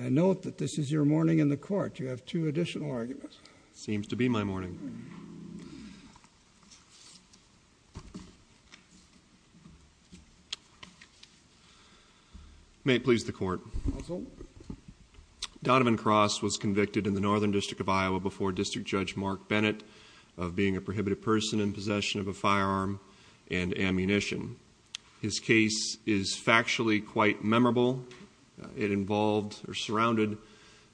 I note that this is your morning in the court. You have two additional arguments. Seems to be my morning. May it please the court. Donovan Cross was convicted in the Northern District of Iowa before District Judge Mark Bennett of being a prohibited person in possession of a firearm and ammunition. His case is factually quite memorable. It involved or surrounded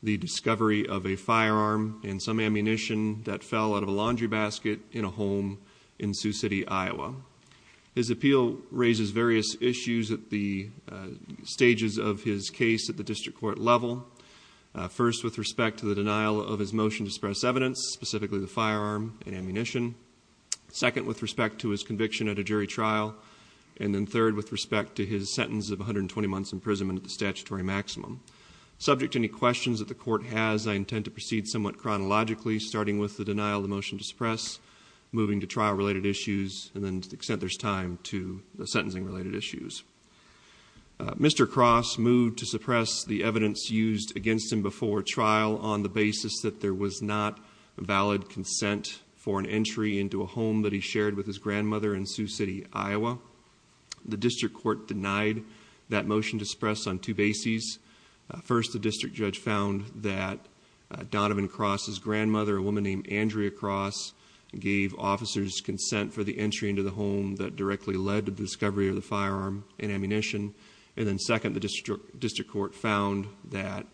the discovery of a firearm and some ammunition that fell out of a laundry basket in a home in Sioux City, Iowa. His appeal raises various issues at the stages of his case at the district court level. First, with respect to the denial of his motion to express evidence, specifically the firearm and ammunition. Second, with respect to his conviction at a jury trial. And then third, with respect to his sentence of 120 months imprisonment at the statutory maximum. Subject to any questions that the court has, I intend to proceed somewhat chronologically, starting with the denial of the motion to suppress, moving to trial related issues, and then to the extent there's time to the sentencing related issues. Mr. Cross moved to suppress the evidence used against him before trial on the basis that there was not valid consent for an entry into a home that he shared with his grandmother in Sioux City, Iowa. The district court denied that motion to suppress on two bases. First, the district judge found that Donovan Cross's grandmother, a woman named Andrea Cross, gave officers consent for the entry into the home that directly led to the discovery of the firearm and ammunition. And then second, the district court found that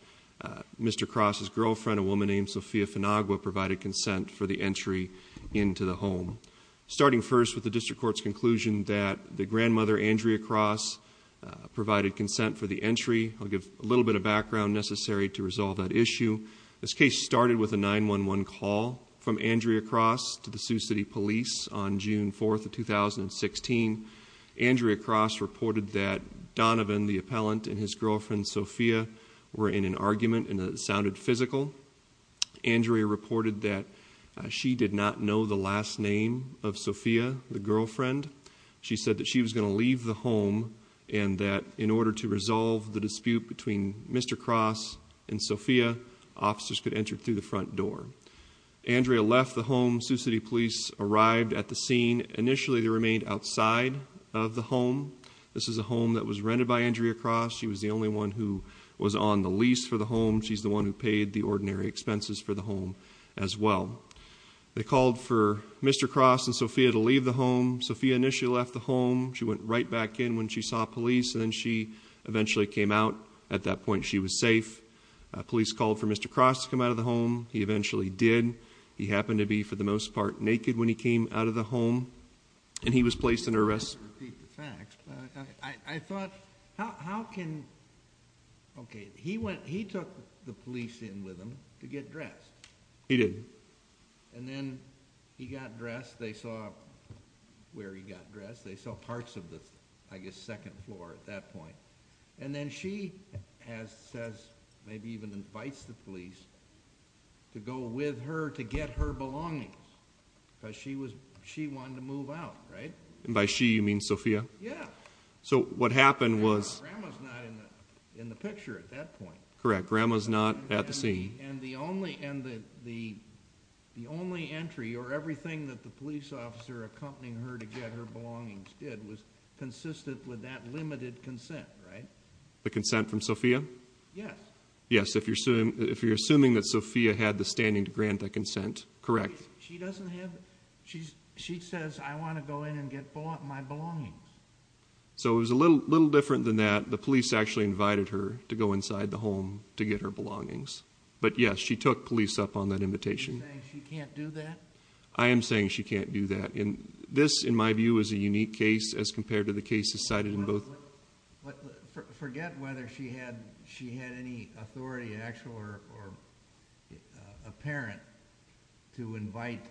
Mr. Cross's girlfriend, a woman named Sophia Finagua, provided consent for the entry into the home. Starting first with the district court's conclusion that the grandmother, Andrea Cross, provided consent for the entry. I'll give a little bit of background necessary to resolve that issue. This case started with a 911 call from Andrea Cross to the Sioux City Police on June 4th of 2016. Andrea Cross reported that Donovan, the appellant, and his girlfriend, Sophia, were in an argument and it sounded physical. Andrea reported that she did not know the last name of Sophia, the girlfriend. She said that she was going to leave the home and that in order to resolve the dispute between Mr. Cross and Sophia, officers could enter through the front door. Andrea left the home. Sioux City Police arrived at the scene. Initially, they remained outside of the home. This is a home that was rented by Andrea Cross. She was the only one who was on the lease for the home. She's the one who paid the ordinary expenses for the home as well. They called for Mr. Cross and Sophia to leave the home. Sophia initially left the home. She went right back in when she saw police and then she eventually came out. At that point, she was safe. Police called for Mr. Cross to come out of the home. He eventually did. He happened to be, for the most part, naked when he came out of the home and he was placed under arrest. I don't want to repeat the facts, but I thought, how can, okay, he went, he took the police in with him to get dressed. He did. And then he got dressed. They saw where he got dressed. They saw parts of the, I guess, second floor at that point. And then she has, says, maybe even invites the police to go with her to get her belongings. Because she wanted to move out, right? And by she, you mean Sophia? Yeah. So what happened was- Grandma's not in the picture at that point. Correct, Grandma's not at the scene. And the only entry, or everything that the police officer accompanying her to get her belongings did, was consistent with that limited consent, right? The consent from Sophia? Yes. Yes, if you're assuming that Sophia had the standing to grant that consent, correct. She doesn't have, she says, I want to go in and get my belongings. So it was a little different than that. The police actually invited her to go inside the home to get her belongings. But yes, she took police up on that invitation. Are you saying she can't do that? I am saying she can't do that. This, in my view, is a unique case as compared to the cases cited in both. Forget whether she had any authority, actual or apparent, to invite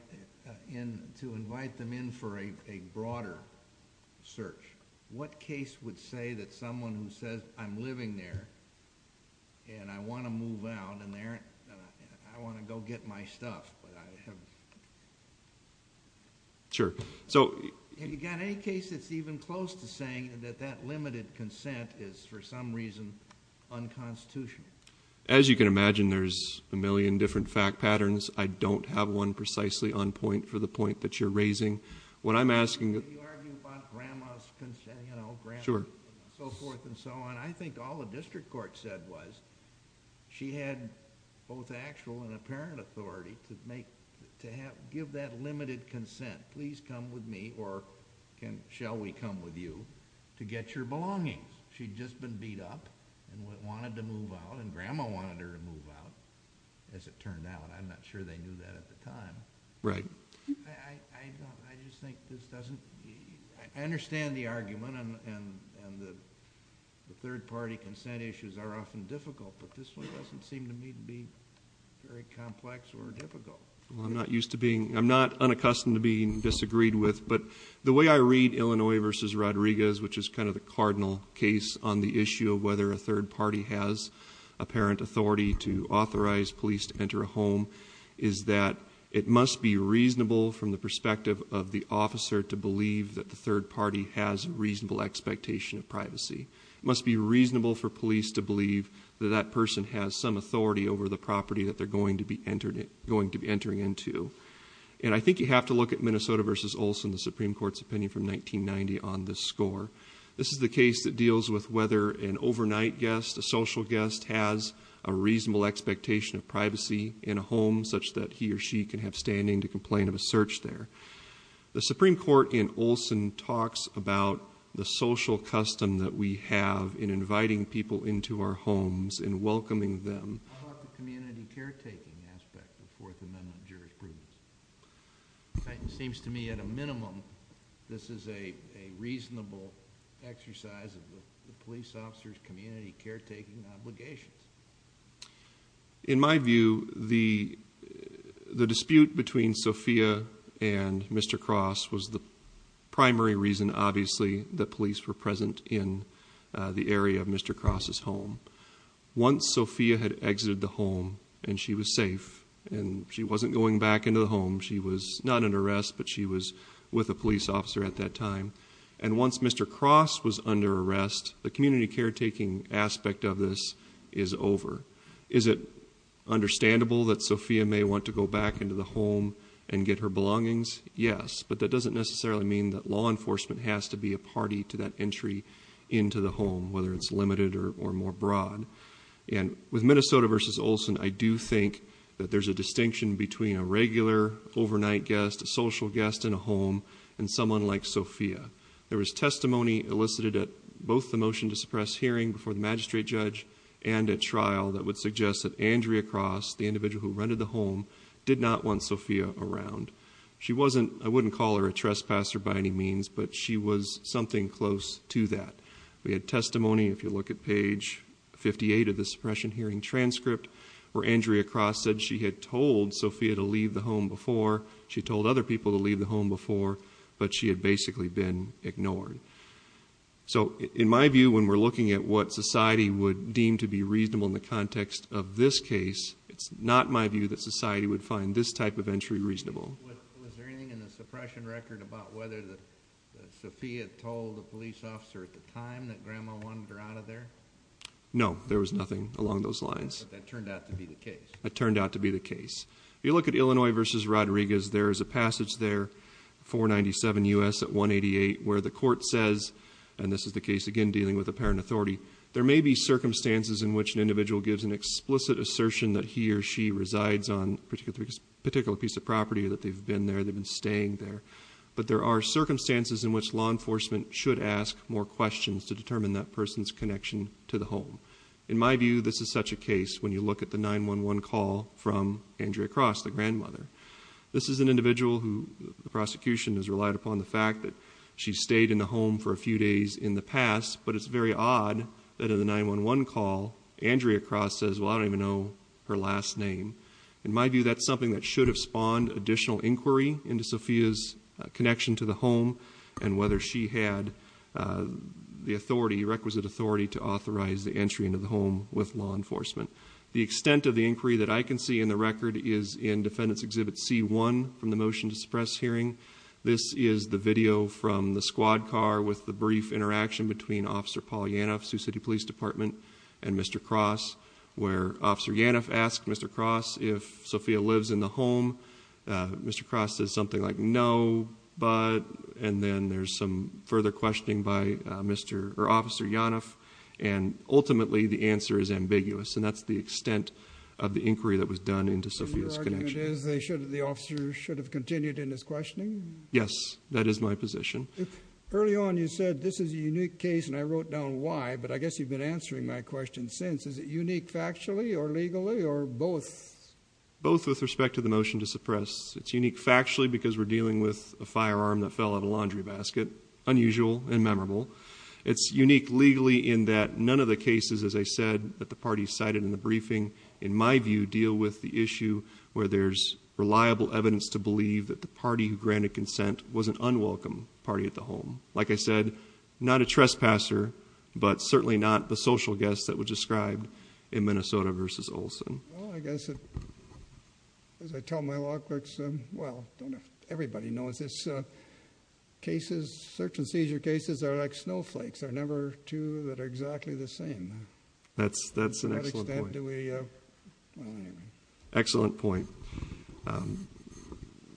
them in for a broader search. What case would say that someone who says, I'm living there, and I want to move out, and I want to go get my stuff, but I have- Sure. So- Have you got any case that's even close to saying that that limited consent is, for some reason, unconstitutional? As you can imagine, there's a million different fact patterns. I don't have one precisely on point for the point that you're raising. What I'm asking- You argue about grandma's consent, you know, grandma, and so forth and so on. I think all the district court said was, she had both actual and apparent authority to give that limited consent, please come with me, or shall we come with you, to get your belongings. She'd just been beat up and wanted to move out, and grandma wanted her to move out, as it turned out. I'm not sure they knew that at the time. Right. I just think this doesn't- I understand the argument, and the third party consent issues are often difficult, but this one doesn't seem to me to be very complex or difficult. I'm not unaccustomed to being disagreed with, but the way I read Illinois versus Rodriguez, which is kind of the cardinal case on the issue of whether a third party has apparent authority to authorize police to enter a home, is that it must be reasonable from the perspective of the officer to believe that the third party has reasonable expectation of privacy. It must be reasonable for police to believe that that person has some authority over the property that they're going to be entering into. And I think you have to look at Minnesota versus Olson, the Supreme Court's opinion from 1990 on this score. This is the case that deals with whether an overnight guest, a social guest, has a reasonable expectation of privacy in a home such that he or she can have standing to complain of a search there. The Supreme Court in Olson talks about the social custom that we have in inviting people into our homes and welcoming them. How about the community caretaking aspect of the Fourth Amendment jurisprudence? It seems to me at a minimum, this is a reasonable exercise of the police officer's community caretaking obligations. In my view, the dispute between Sophia and Mr. Cross was the primary reason, obviously, that police were present in the area of Mr. Cross' home. Once Sophia had exited the home, and she was safe, and she wasn't going back into the home. She was not under arrest, but she was with a police officer at that time. And once Mr. Cross was under arrest, the community caretaking aspect of this is over. Is it understandable that Sophia may want to go back into the home and get her belongings? Yes, but that doesn't necessarily mean that law enforcement has to be a party to that entry into the home, whether it's limited or more broad. And with Minnesota versus Olson, I do think that there's a distinction between a regular overnight guest, a social guest in a home, and someone like Sophia. There was testimony elicited at both the motion to suppress hearing before the magistrate judge and at trial that would suggest that Andrea Cross, the individual who rented the home, did not want Sophia around. She wasn't, I wouldn't call her a trespasser by any means, but she was something close to that. We had testimony, if you look at page 58 of the suppression hearing transcript, where Andrea Cross said she had told Sophia to leave the home before. She told other people to leave the home before, but she had basically been ignored. So in my view, when we're looking at what society would deem to be reasonable in the context of this case, it's not my view that society would find this type of entry reasonable. Was there anything in the suppression record about whether Sophia told the police officer at the time that Grandma wanted her out of there? No, there was nothing along those lines. But that turned out to be the case. It turned out to be the case. You look at Illinois versus Rodriguez, there is a passage there, 497 US at 188, where the court says, and this is the case again dealing with a parent authority, there may be circumstances in which an individual gives an explicit assertion that he or she resides on a particular piece of property, that they've been there, they've been staying there. But there are circumstances in which law enforcement should ask more questions to determine that person's connection to the home. In my view, this is such a case when you look at the 911 call from Andrea Cross, the grandmother. This is an individual who the prosecution has relied upon the fact that she stayed in the home for a few days in the past. But it's very odd that in the 911 call, Andrea Cross says, well, I don't even know her last name. In my view, that's something that should have spawned additional inquiry into Sophia's connection to the home and whether she had the requisite authority to authorize the entry into the home with law enforcement. The extent of the inquiry that I can see in the record is in Defendant's Exhibit C1 from the motion to suppress hearing. This is the video from the squad car with the brief interaction between Officer Paul Yanoff, Sioux City Police Department, and Mr. Cross, where Officer Yanoff asked Mr. Cross if Sophia lives in the home, Mr. Cross says something like no, but, and then there's some further questioning by Officer Yanoff. And ultimately, the answer is ambiguous. And that's the extent of the inquiry that was done into Sophia's connection. The argument is the officer should have continued in his questioning? Yes, that is my position. Early on you said this is a unique case and I wrote down why, but I guess you've been answering my question since. Is it unique factually or legally or both? Both with respect to the motion to suppress. It's unique factually because we're dealing with a firearm that fell out of a laundry basket. Unusual and memorable. It's unique legally in that none of the cases, as I said, that the party cited in the briefing, in my view, deal with the issue where there's reliable evidence to believe that the party who granted consent was an unwelcome party at the home. Like I said, not a trespasser, but certainly not the social guest that was described in Minnesota versus Olson. Well, I guess as I tell my law clerks, well, don't everybody know this? Cases, search and seizure cases are like snowflakes. They're never two that are exactly the same. That's an excellent point. To what extent do we, well, anyway. Excellent point.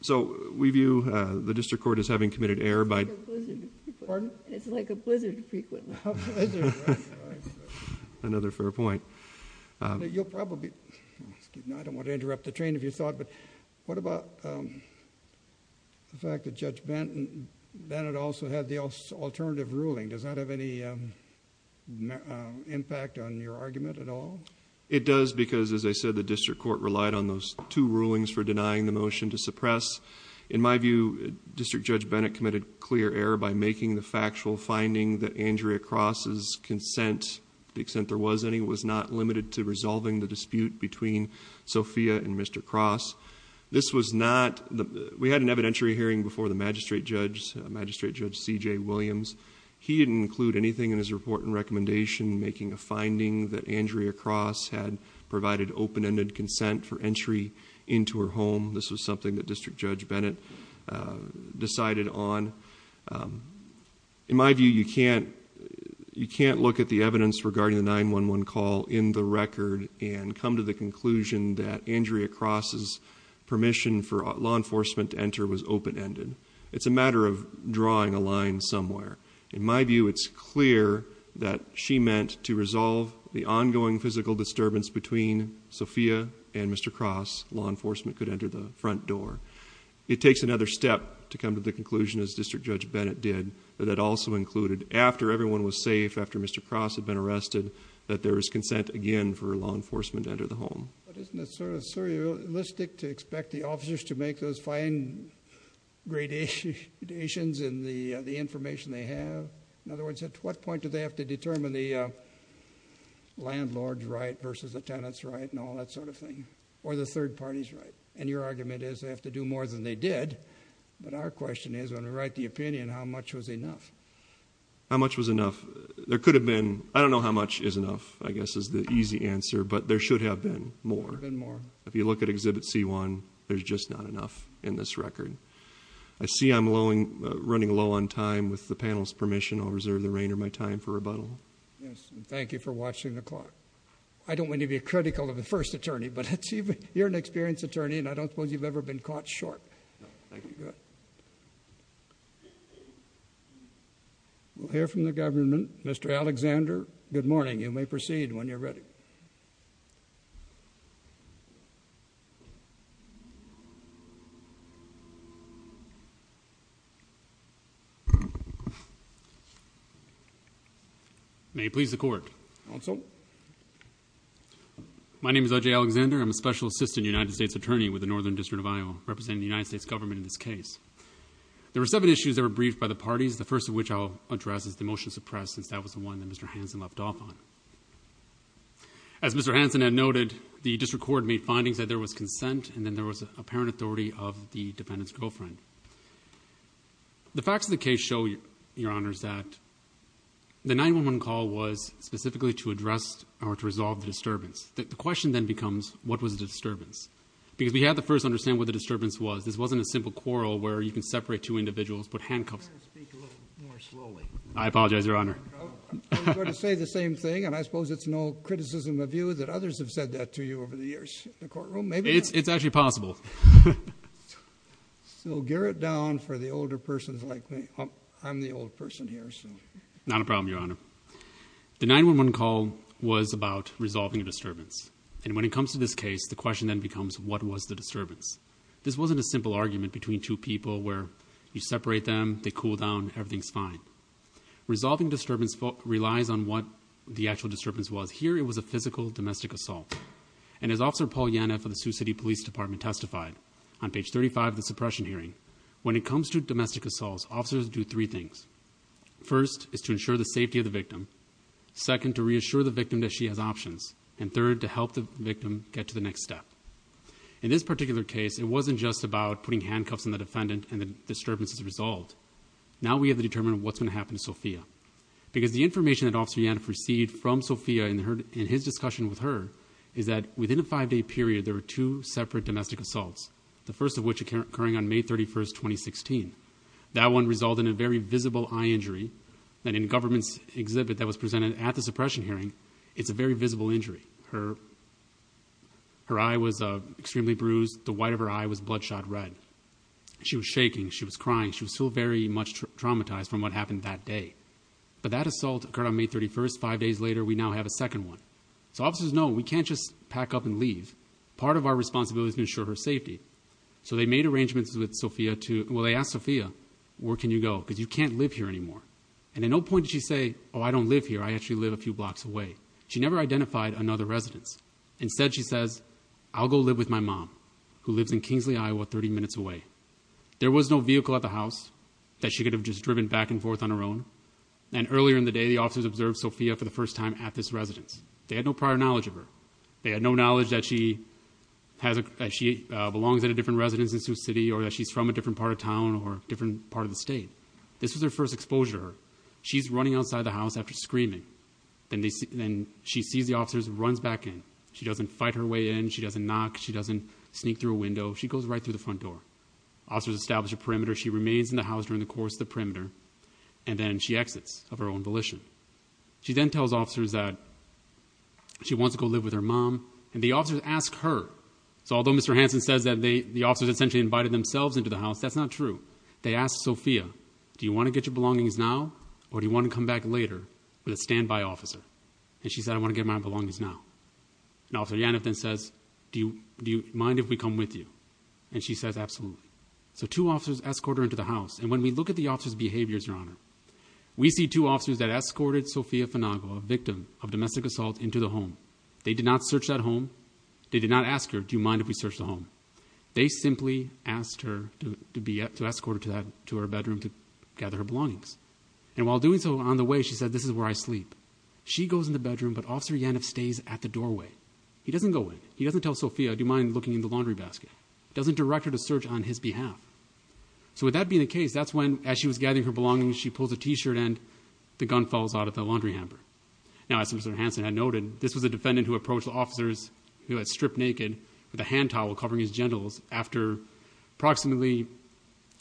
So we view the district court as having committed error by- It's like a blizzard. Pardon? It's like a blizzard frequently. A blizzard, right, right, right. Another fair point. You'll probably, excuse me, I don't want to interrupt the train of your thought, but what about the fact that Judge Bennett also had the alternative ruling? Does that have any impact on your argument at all? It does because, as I said, the district court relied on those two rulings for denying the motion to suppress. In my view, District Judge Bennett committed clear error by making the factual finding that Andrea Cross's consent, to the extent there was any, was not limited to resolving the dispute between Sophia and Mr. Cross. This was not, we had an evidentiary hearing before the magistrate judge, Magistrate Judge C.J. Williams. He didn't include anything in his report and recommendation making a finding that Andrea Cross had provided open-ended consent for entry into her home. This was something that District Judge Bennett decided on. In my view, you can't look at the evidence regarding the 911 call in the record and come to the conclusion that Andrea Cross's permission for law enforcement to enter was open-ended. It's a matter of drawing a line somewhere. In my view, it's clear that she meant to resolve the ongoing physical disturbance between Sophia and Mr. Cross, law enforcement could enter the front door. It takes another step to come to the conclusion, as District Judge Bennett did, that it also included, after everyone was safe, after Mr. Cross had been arrested, that there was consent again for law enforcement to enter the home. But isn't it sort of surrealistic to expect the officers to make those fine gradations in the information they have? In other words, at what point do they have to determine the landlord's right versus the tenant's right and all that sort of thing? Or the third party's right? And your argument is they have to do more than they did, but our question is, when we write the opinion, how much was enough? How much was enough? There could have been, I don't know how much is enough, I guess, is the easy answer, but there should have been more. There have been more. If you look at Exhibit C1, there's just not enough in this record. I see I'm running low on time. With the panel's permission, I'll reserve the reigner of my time for rebuttal. Yes, and thank you for watching the clock. I don't want to be critical of the first attorney, but you're an experienced attorney and I don't suppose you've ever been caught short. We'll hear from the government. Mr. Alexander, good morning. You may proceed when you're ready. May it please the court. Also. My name is OJ Alexander. I'm a special assistant United States attorney with the Northern District of Iowa, representing the United States government in this case. There were seven issues that were briefed by the parties. The first of which I'll address is the motion suppressed, since that was the one that Mr. Hansen left off on. As Mr. Hansen had noted, the district court made findings that there was consent, and then there was apparent authority of the defendant's girlfriend. The facts of the case show, Your Honors, that the 911 call was specifically to address or to resolve the disturbance. The question then becomes, what was the disturbance? Because we have to first understand what the disturbance was. This wasn't a simple quarrel where you can separate two individuals, put handcuffs- You better speak a little more slowly. I apologize, Your Honor. I was going to say the same thing, and I suppose it's no criticism of you that others have said that to you over the years in the courtroom. Maybe- It's actually possible. So, gear it down for the older persons like me. I'm the old person here, so. Not a problem, Your Honor. The 911 call was about resolving a disturbance. And when it comes to this case, the question then becomes, what was the disturbance? This wasn't a simple argument between two people where you separate them, they cool down, everything's fine. Resolving disturbance relies on what the actual disturbance was. Here, it was a physical domestic assault. And as Officer Paul Yanev of the Sioux City Police Department testified on page 35 of the suppression hearing, when it comes to domestic assaults, officers do three things. First, is to ensure the safety of the victim. Second, to reassure the victim that she has options. And third, to help the victim get to the next step. In this particular case, it wasn't just about putting handcuffs on the defendant and the disturbance is resolved. Now we have to determine what's going to happen to Sophia. Because the information that Officer Yanev received from Sophia in his discussion with her, is that within a five day period, there were two separate domestic assaults. The first of which occurring on May 31st, 2016. That one resulted in a very visible eye injury. And in the government's exhibit that was presented at the suppression hearing, it's a very visible injury. Her eye was extremely bruised. The white of her eye was bloodshot red. She was shaking, she was crying. She was still very much traumatized from what happened that day. But that assault occurred on May 31st, five days later, we now have a second one. So officers know, we can't just pack up and leave. Part of our responsibility is to ensure her safety. So they made arrangements with Sophia to, well they asked Sophia, where can you go? Because you can't live here anymore. And at no point did she say, I don't live here, I actually live a few blocks away. She never identified another residence. Instead she says, I'll go live with my mom, who lives in Kingsley, Iowa, 30 minutes away. There was no vehicle at the house that she could have just driven back and forth on her own. And earlier in the day, the officers observed Sophia for the first time at this residence. They had no prior knowledge of her. They had no knowledge that she belongs at a different residence in Sioux City, or that she's from a different part of town, or a different part of the state. This was her first exposure. She's running outside the house after screaming. Then she sees the officers and runs back in. She doesn't fight her way in, she doesn't knock, she doesn't sneak through a window. She goes right through the front door. Officers establish a perimeter, she remains in the house during the course of the perimeter. And then she exits of her own volition. She then tells officers that she wants to go live with her mom, and the officers ask her. So although Mr. Hanson says that the officers essentially invited themselves into the house, that's not true. They asked Sophia, do you want to get your belongings now, or do you want to come back later with a standby officer? And she said, I want to get my belongings now. And Officer Yanev then says, do you mind if we come with you? And she says, absolutely. So two officers escort her into the house. And when we look at the officer's behaviors, Your Honor, we see two officers that escorted Sophia Finago, a victim of domestic assault, into the home. They did not search that home. They did not ask her, do you mind if we search the home? They simply asked her to escort her to her bedroom to gather her belongings. And while doing so, on the way, she said, this is where I sleep. She goes in the bedroom, but Officer Yanev stays at the doorway. He doesn't go in. He doesn't tell Sophia, do you mind looking in the laundry basket? Doesn't direct her to search on his behalf. So with that being the case, that's when, as she was gathering her belongings, she pulls a t-shirt and the gun falls out of the laundry hamper. Now, as Mr. Hanson had noted, this was a defendant who approached the officers, who had stripped naked, with a hand towel covering his genitals after approximately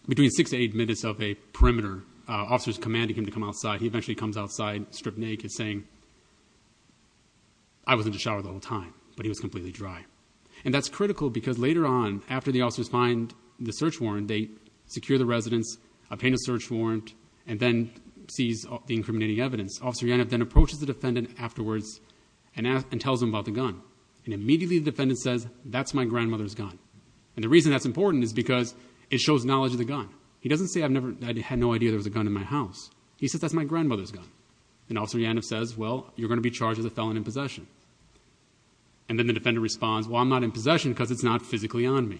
between six to eight minutes of a perimeter, officers commanding him to come outside. He eventually comes outside, stripped naked, saying, I wasn't in the shower the whole time, but he was completely dry. And that's critical because later on, after the officers find the search warrant, they secure the residence, obtain a search warrant, and then seize the incriminating evidence. Officer Yanev then approaches the defendant afterwards and tells him about the gun. And immediately the defendant says, that's my grandmother's gun. And the reason that's important is because it shows knowledge of the gun. He doesn't say, I had no idea there was a gun in my house. He says, that's my grandmother's gun. And Officer Yanev says, well, you're going to be charged as a felon in possession. And then the defendant responds, well, I'm not in possession because it's not physically on me.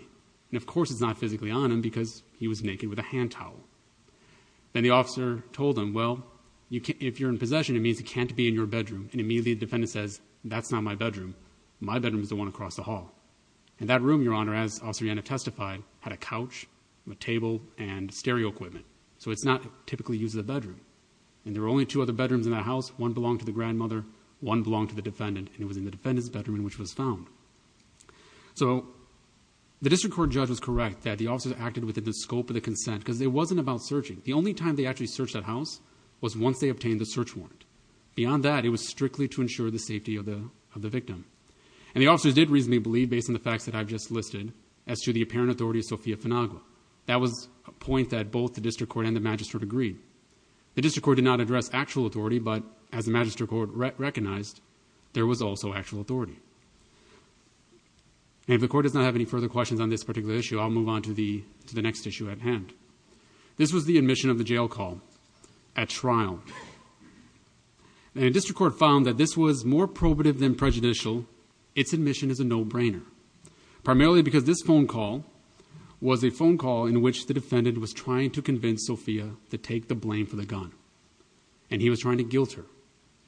And of course, it's not physically on him because he was naked with a hand towel. Then the officer told him, well, if you're in possession, it means it can't be in your bedroom. And immediately the defendant says, that's not my bedroom. My bedroom is the one across the hall. And that room, Your Honor, as Officer Yanev testified, had a couch, a table, and a bedroom. And there were only two other bedrooms in that house. One belonged to the grandmother, one belonged to the defendant, and it was in the defendant's bedroom in which it was found. So the district court judge was correct that the officers acted within the scope of the consent, because it wasn't about searching. The only time they actually searched that house was once they obtained the search warrant. Beyond that, it was strictly to ensure the safety of the victim. And the officers did reasonably believe, based on the facts that I've just listed, as to the apparent authority of Sofia Finagua. That was a point that both the district court and the magistrate agreed. The district court did not address actual authority, but as the magistrate court recognized, there was also actual authority. And if the court does not have any further questions on this particular issue, I'll move on to the next issue at hand. This was the admission of the jail call at trial. And the district court found that this was more probative than prejudicial. Its admission is a no-brainer. Primarily because this phone call was a phone call in which the defendant was trying to convince Sofia to take the blame for the gun, and he was trying to guilt her.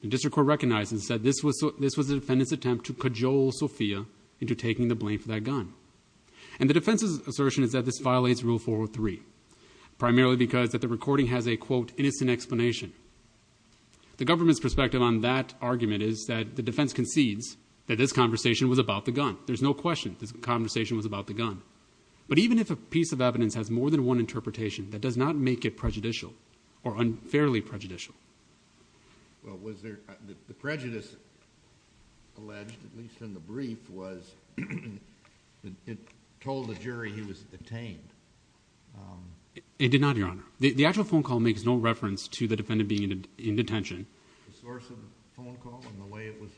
The district court recognized and said this was the defendant's attempt to cajole Sofia into taking the blame for that gun. And the defense's assertion is that this violates rule 403. Primarily because that the recording has a quote, innocent explanation. The government's perspective on that argument is that the defense concedes that this conversation was about the gun. There's no question this conversation was about the gun. But even if a piece of evidence has more than one interpretation, that does not make it prejudicial or unfairly prejudicial. Well, was there, the prejudice alleged, at least in the brief, was it told the jury he was detained? It did not, your honor. The actual phone call makes no reference to the defendant being in detention. The source of the phone call and the way it was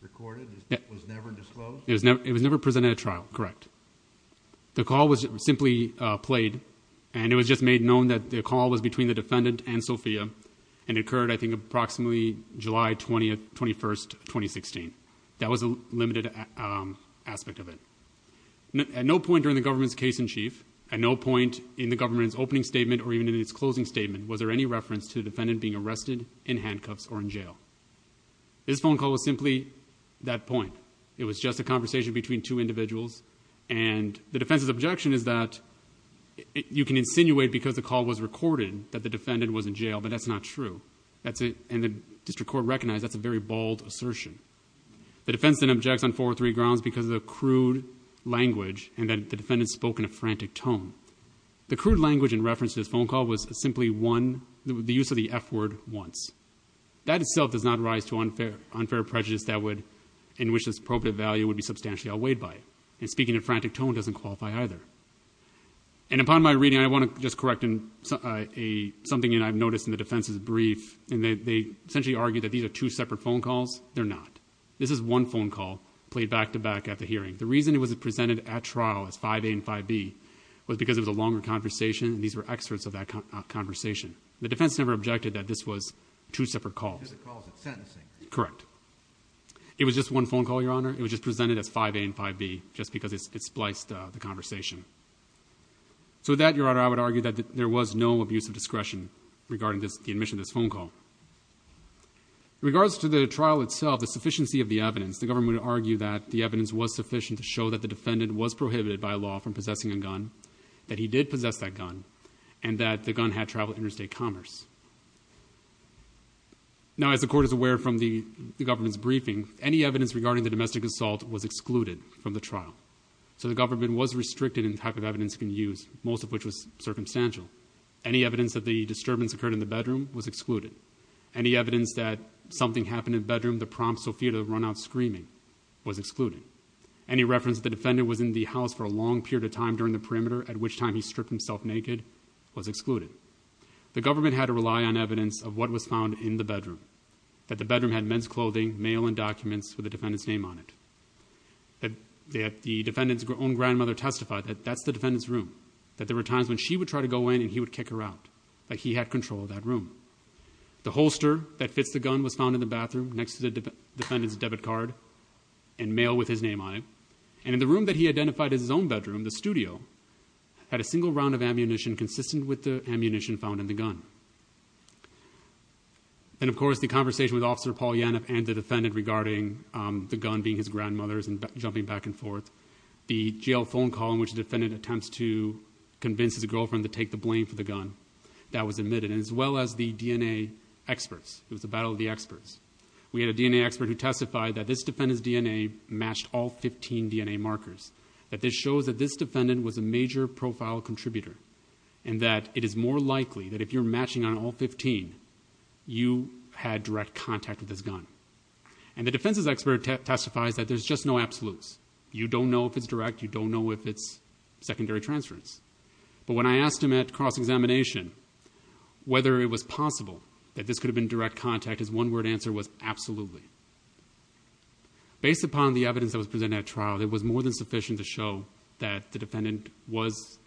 recorded was never disclosed? It was never presented at trial, correct. The call was simply played and it was just made known that the call was between the defendant and Sofia and occurred I think approximately July 20th, 21st, 2016. That was a limited aspect of it. At no point during the government's case in chief, at no point in the government's opening statement or even in its closing statement was there any reference to the defendant being arrested, in handcuffs, or in jail. This phone call was simply that point. It was just a conversation between two individuals and the defense's objection is that you can insinuate because the call was recorded that the defendant was in jail, but that's not true. And the district court recognized that's a very bold assertion. The defense then objects on four or three grounds because of the crude language and that the defendant spoke in a frantic tone. The crude language in reference to this phone call was simply one, the use of the F word once. That itself does not rise to unfair prejudice that would, in which this appropriate value would be substantially outweighed by it. And speaking in a frantic tone doesn't qualify either. And upon my reading, I want to just correct something that I've noticed in the defense's brief, and they essentially argue that these are two separate phone calls. They're not. This is one phone call played back to back at the hearing. The reason it was presented at trial as 5A and 5B was because it was a longer conversation and these were experts of that conversation. The defense never objected that this was two separate calls. It was a call of sentencing. Correct. It was just one phone call, Your Honor. It was just presented as 5A and 5B, just because it spliced the conversation. So that, Your Honor, I would argue that there was no abuse of discretion regarding the admission of this phone call. In regards to the trial itself, the sufficiency of the evidence, the government would argue that the evidence was sufficient to show that the defendant was prohibited by law from possessing a gun, that he did possess that gun, and that the gun had traveled interstate commerce. Now, as the court is aware from the government's briefing, any evidence regarding the domestic assault was excluded from the trial. So the government was restricted in the type of evidence it can use, most of which was circumstantial. Any evidence that the disturbance occurred in the bedroom was excluded. Any evidence that something happened in the bedroom that prompted Sophia to run out screaming was excluded. Any reference that the defendant was in the house for herself naked was excluded. The government had to rely on evidence of what was found in the bedroom. That the bedroom had men's clothing, mail, and documents with the defendant's name on it. That the defendant's own grandmother testified that that's the defendant's room. That there were times when she would try to go in and he would kick her out. That he had control of that room. The holster that fits the gun was found in the bathroom next to the defendant's debit card and mail with his name on it. And in the room that he identified as his own bedroom, the studio had a single round of ammunition consistent with the ammunition found in the gun. And of course, the conversation with Officer Paul Yanev and the defendant regarding the gun being his grandmother's and jumping back and forth. The jail phone call in which the defendant attempts to convince his girlfriend to take the blame for the gun. That was admitted, as well as the DNA experts. It was a battle of the experts. We had a DNA expert who testified that this defendant's DNA matched all 15 DNA markers. That this shows that this defendant was a major profile contributor. And that it is more likely that if you're matching on all 15, you had direct contact with this gun. And the defense's expert testifies that there's just no absolutes. You don't know if it's direct, you don't know if it's secondary transference. But when I asked him at cross-examination whether it was possible that this could have been direct contact, his one word answer was absolutely. Based upon the evidence that was presented at trial, it was more than sufficient to show that the defendant was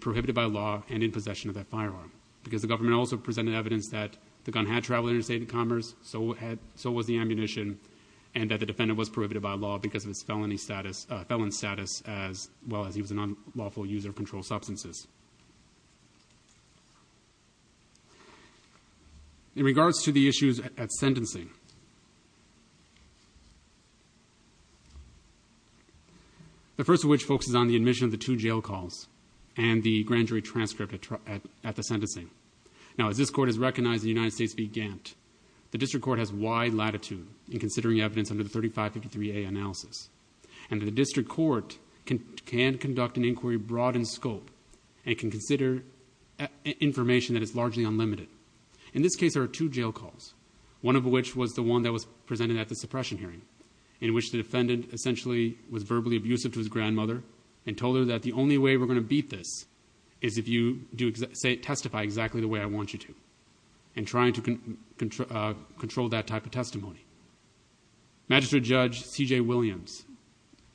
prohibited by law and in possession of that firearm. Because the government also presented evidence that the gun had traveled interstate in commerce, so was the ammunition. And that the defendant was prohibited by law because of his felon status, as well as he was a non-lawful user of controlled substances. In regards to the issues at sentencing. The first of which focuses on the admission of the two jail calls and the grand jury transcript at the sentencing. Now, as this court has recognized in the United States v. Gantt, the district court has wide latitude in considering evidence under the 3553A analysis. And the district court can conduct an inquiry broad in scope and can consider information that is largely unlimited. In this case, there are two jail calls. One of which was the one that was presented at the suppression hearing, in which the defendant essentially was verbally abusive to his grandmother. And told her that the only way we're going to beat this is if you testify exactly the way I want you to. And trying to control that type of testimony. Magistrate Judge C.J. Williams,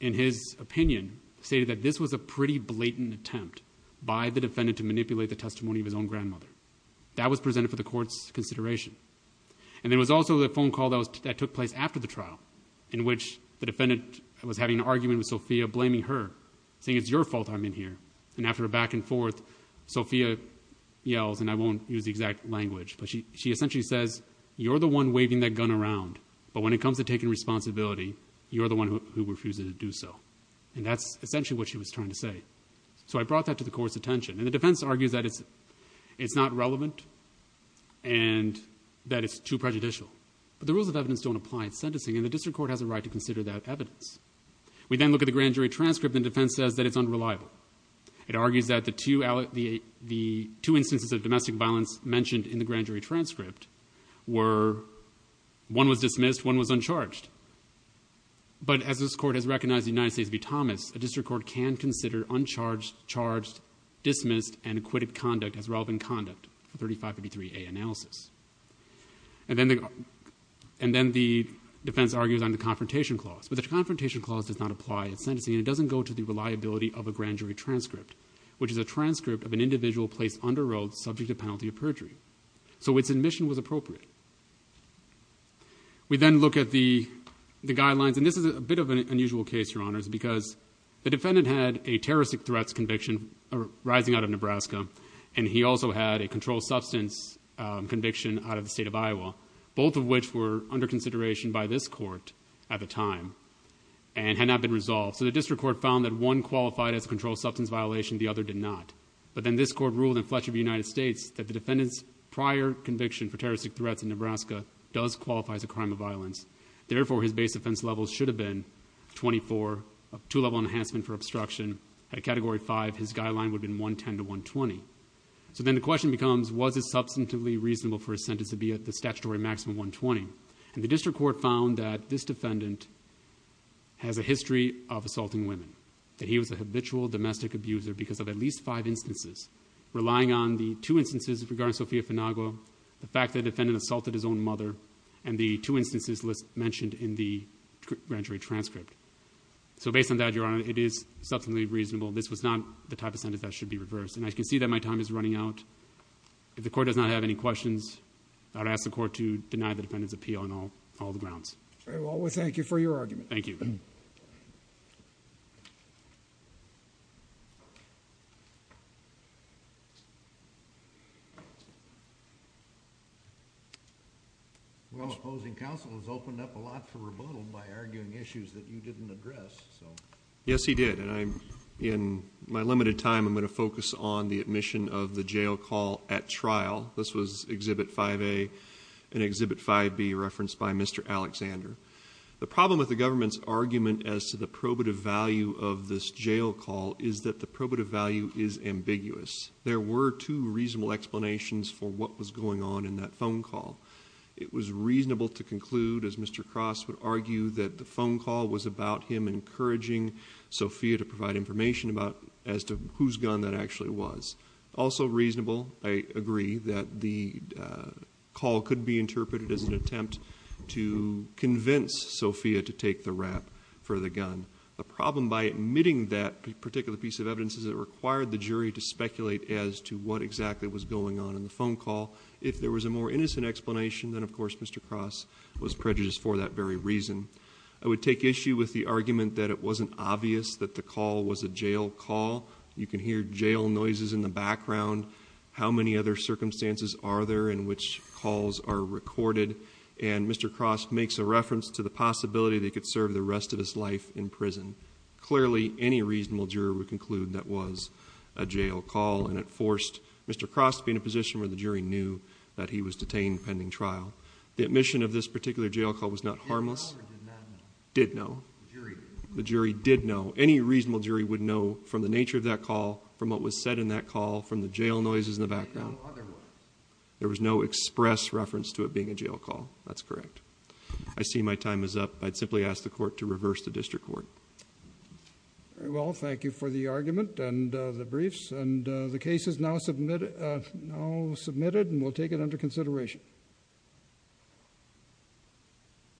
in his opinion, stated that this was a pretty blatant attempt by the defendant to manipulate the testimony of his own grandmother. That was presented for the court's consideration. And there was also the phone call that took place after the trial. In which the defendant was having an argument with Sophia, blaming her, saying it's your fault I'm in here. And after a back and forth, Sophia yells, and I won't use the exact language. But she essentially says, you're the one waving that gun around. But when it comes to taking responsibility, you're the one who refuses to do so. And that's essentially what she was trying to say. So I brought that to the court's attention. And the defense argues that it's not relevant and that it's too prejudicial. But the rules of evidence don't apply in sentencing and the district court has a right to consider that evidence. We then look at the grand jury transcript and the defense says that it's unreliable. It argues that the two instances of domestic violence mentioned in the grand jury transcript were, one was dismissed, one was uncharged. But as this court has recognized the United States v. Thomas, a district court can consider uncharged, charged, dismissed, and acquitted conduct as relevant conduct for 3553A analysis. And then the defense argues on the confrontation clause. But the confrontation clause does not apply in sentencing and it doesn't go to the reliability of a grand jury transcript, which is a transcript of an individual placed under oath subject to penalty of perjury. So its admission was appropriate. We then look at the guidelines, and this is a bit of an unusual case, your honors, because the defendant had a terroristic threats conviction arising out of Nebraska. And he also had a controlled substance conviction out of the state of Iowa, both of which were under consideration by this court at the time and had not been resolved. So the district court found that one qualified as a controlled substance violation, the other did not. But then this court ruled in Fletcher v. United States that the defendant's prior conviction for terroristic threats in Nebraska does qualify as a crime of violence. Therefore, his base offense level should have been 24, two level enhancement for obstruction. At category five, his guideline would have been 110 to 120. So then the question becomes, was it substantively reasonable for a sentence to be at the statutory maximum 120? And the district court found that this defendant has a history of assaulting women. That he was a habitual domestic abuser because of at least five instances. Relying on the two instances regarding Sofia Finagua, the fact that the defendant assaulted his own mother, and the two instances mentioned in the grand jury transcript. So based on that, your honor, it is substantively reasonable. This was not the type of sentence that should be reversed. And I can see that my time is running out. If the court does not have any questions, I would ask the court to deny the defendant's appeal on all the grounds. All right, well, we thank you for your argument. Thank you. Well, opposing counsel has opened up a lot for rebuttal by arguing issues that you didn't address, so. Yes, he did, and in my limited time, I'm going to focus on the admission of the jail call at trial. This was exhibit 5A and exhibit 5B referenced by Mr. Alexander. The problem with the government's argument as to the probative value of this jail call is that the probative value is ambiguous. There were two reasonable explanations for what was going on in that phone call. It was reasonable to conclude, as Mr. Cross would argue, that the phone call was about him encouraging Sophia to provide information as to whose gun that actually was. Also reasonable, I agree, that the call could be interpreted as an attempt to convince Sophia to take the rap for the gun. The problem by admitting that particular piece of evidence is it required the jury to speculate as to what exactly was going on in the phone call. If there was a more innocent explanation, then of course, Mr. Cross was prejudiced for that very reason. I would take issue with the argument that it wasn't obvious that the call was a jail call. You can hear jail noises in the background. How many other circumstances are there in which calls are recorded? And Mr. Cross makes a reference to the possibility that he could serve the rest of his life in prison. Clearly, any reasonable juror would conclude that was a jail call, and it forced Mr. Cross to be in a position where the jury knew that he was detained pending trial. The admission of this particular jail call was not harmless. Did know. The jury did know. Any reasonable jury would know from the nature of that call, from what was said in that call, from the jail noises in the background. There was no express reference to it being a jail call. That's correct. I see my time is up. I'd simply ask the court to reverse the district court. Very well, thank you for the argument and the briefs. And the case is now submitted, and we'll take it under consideration.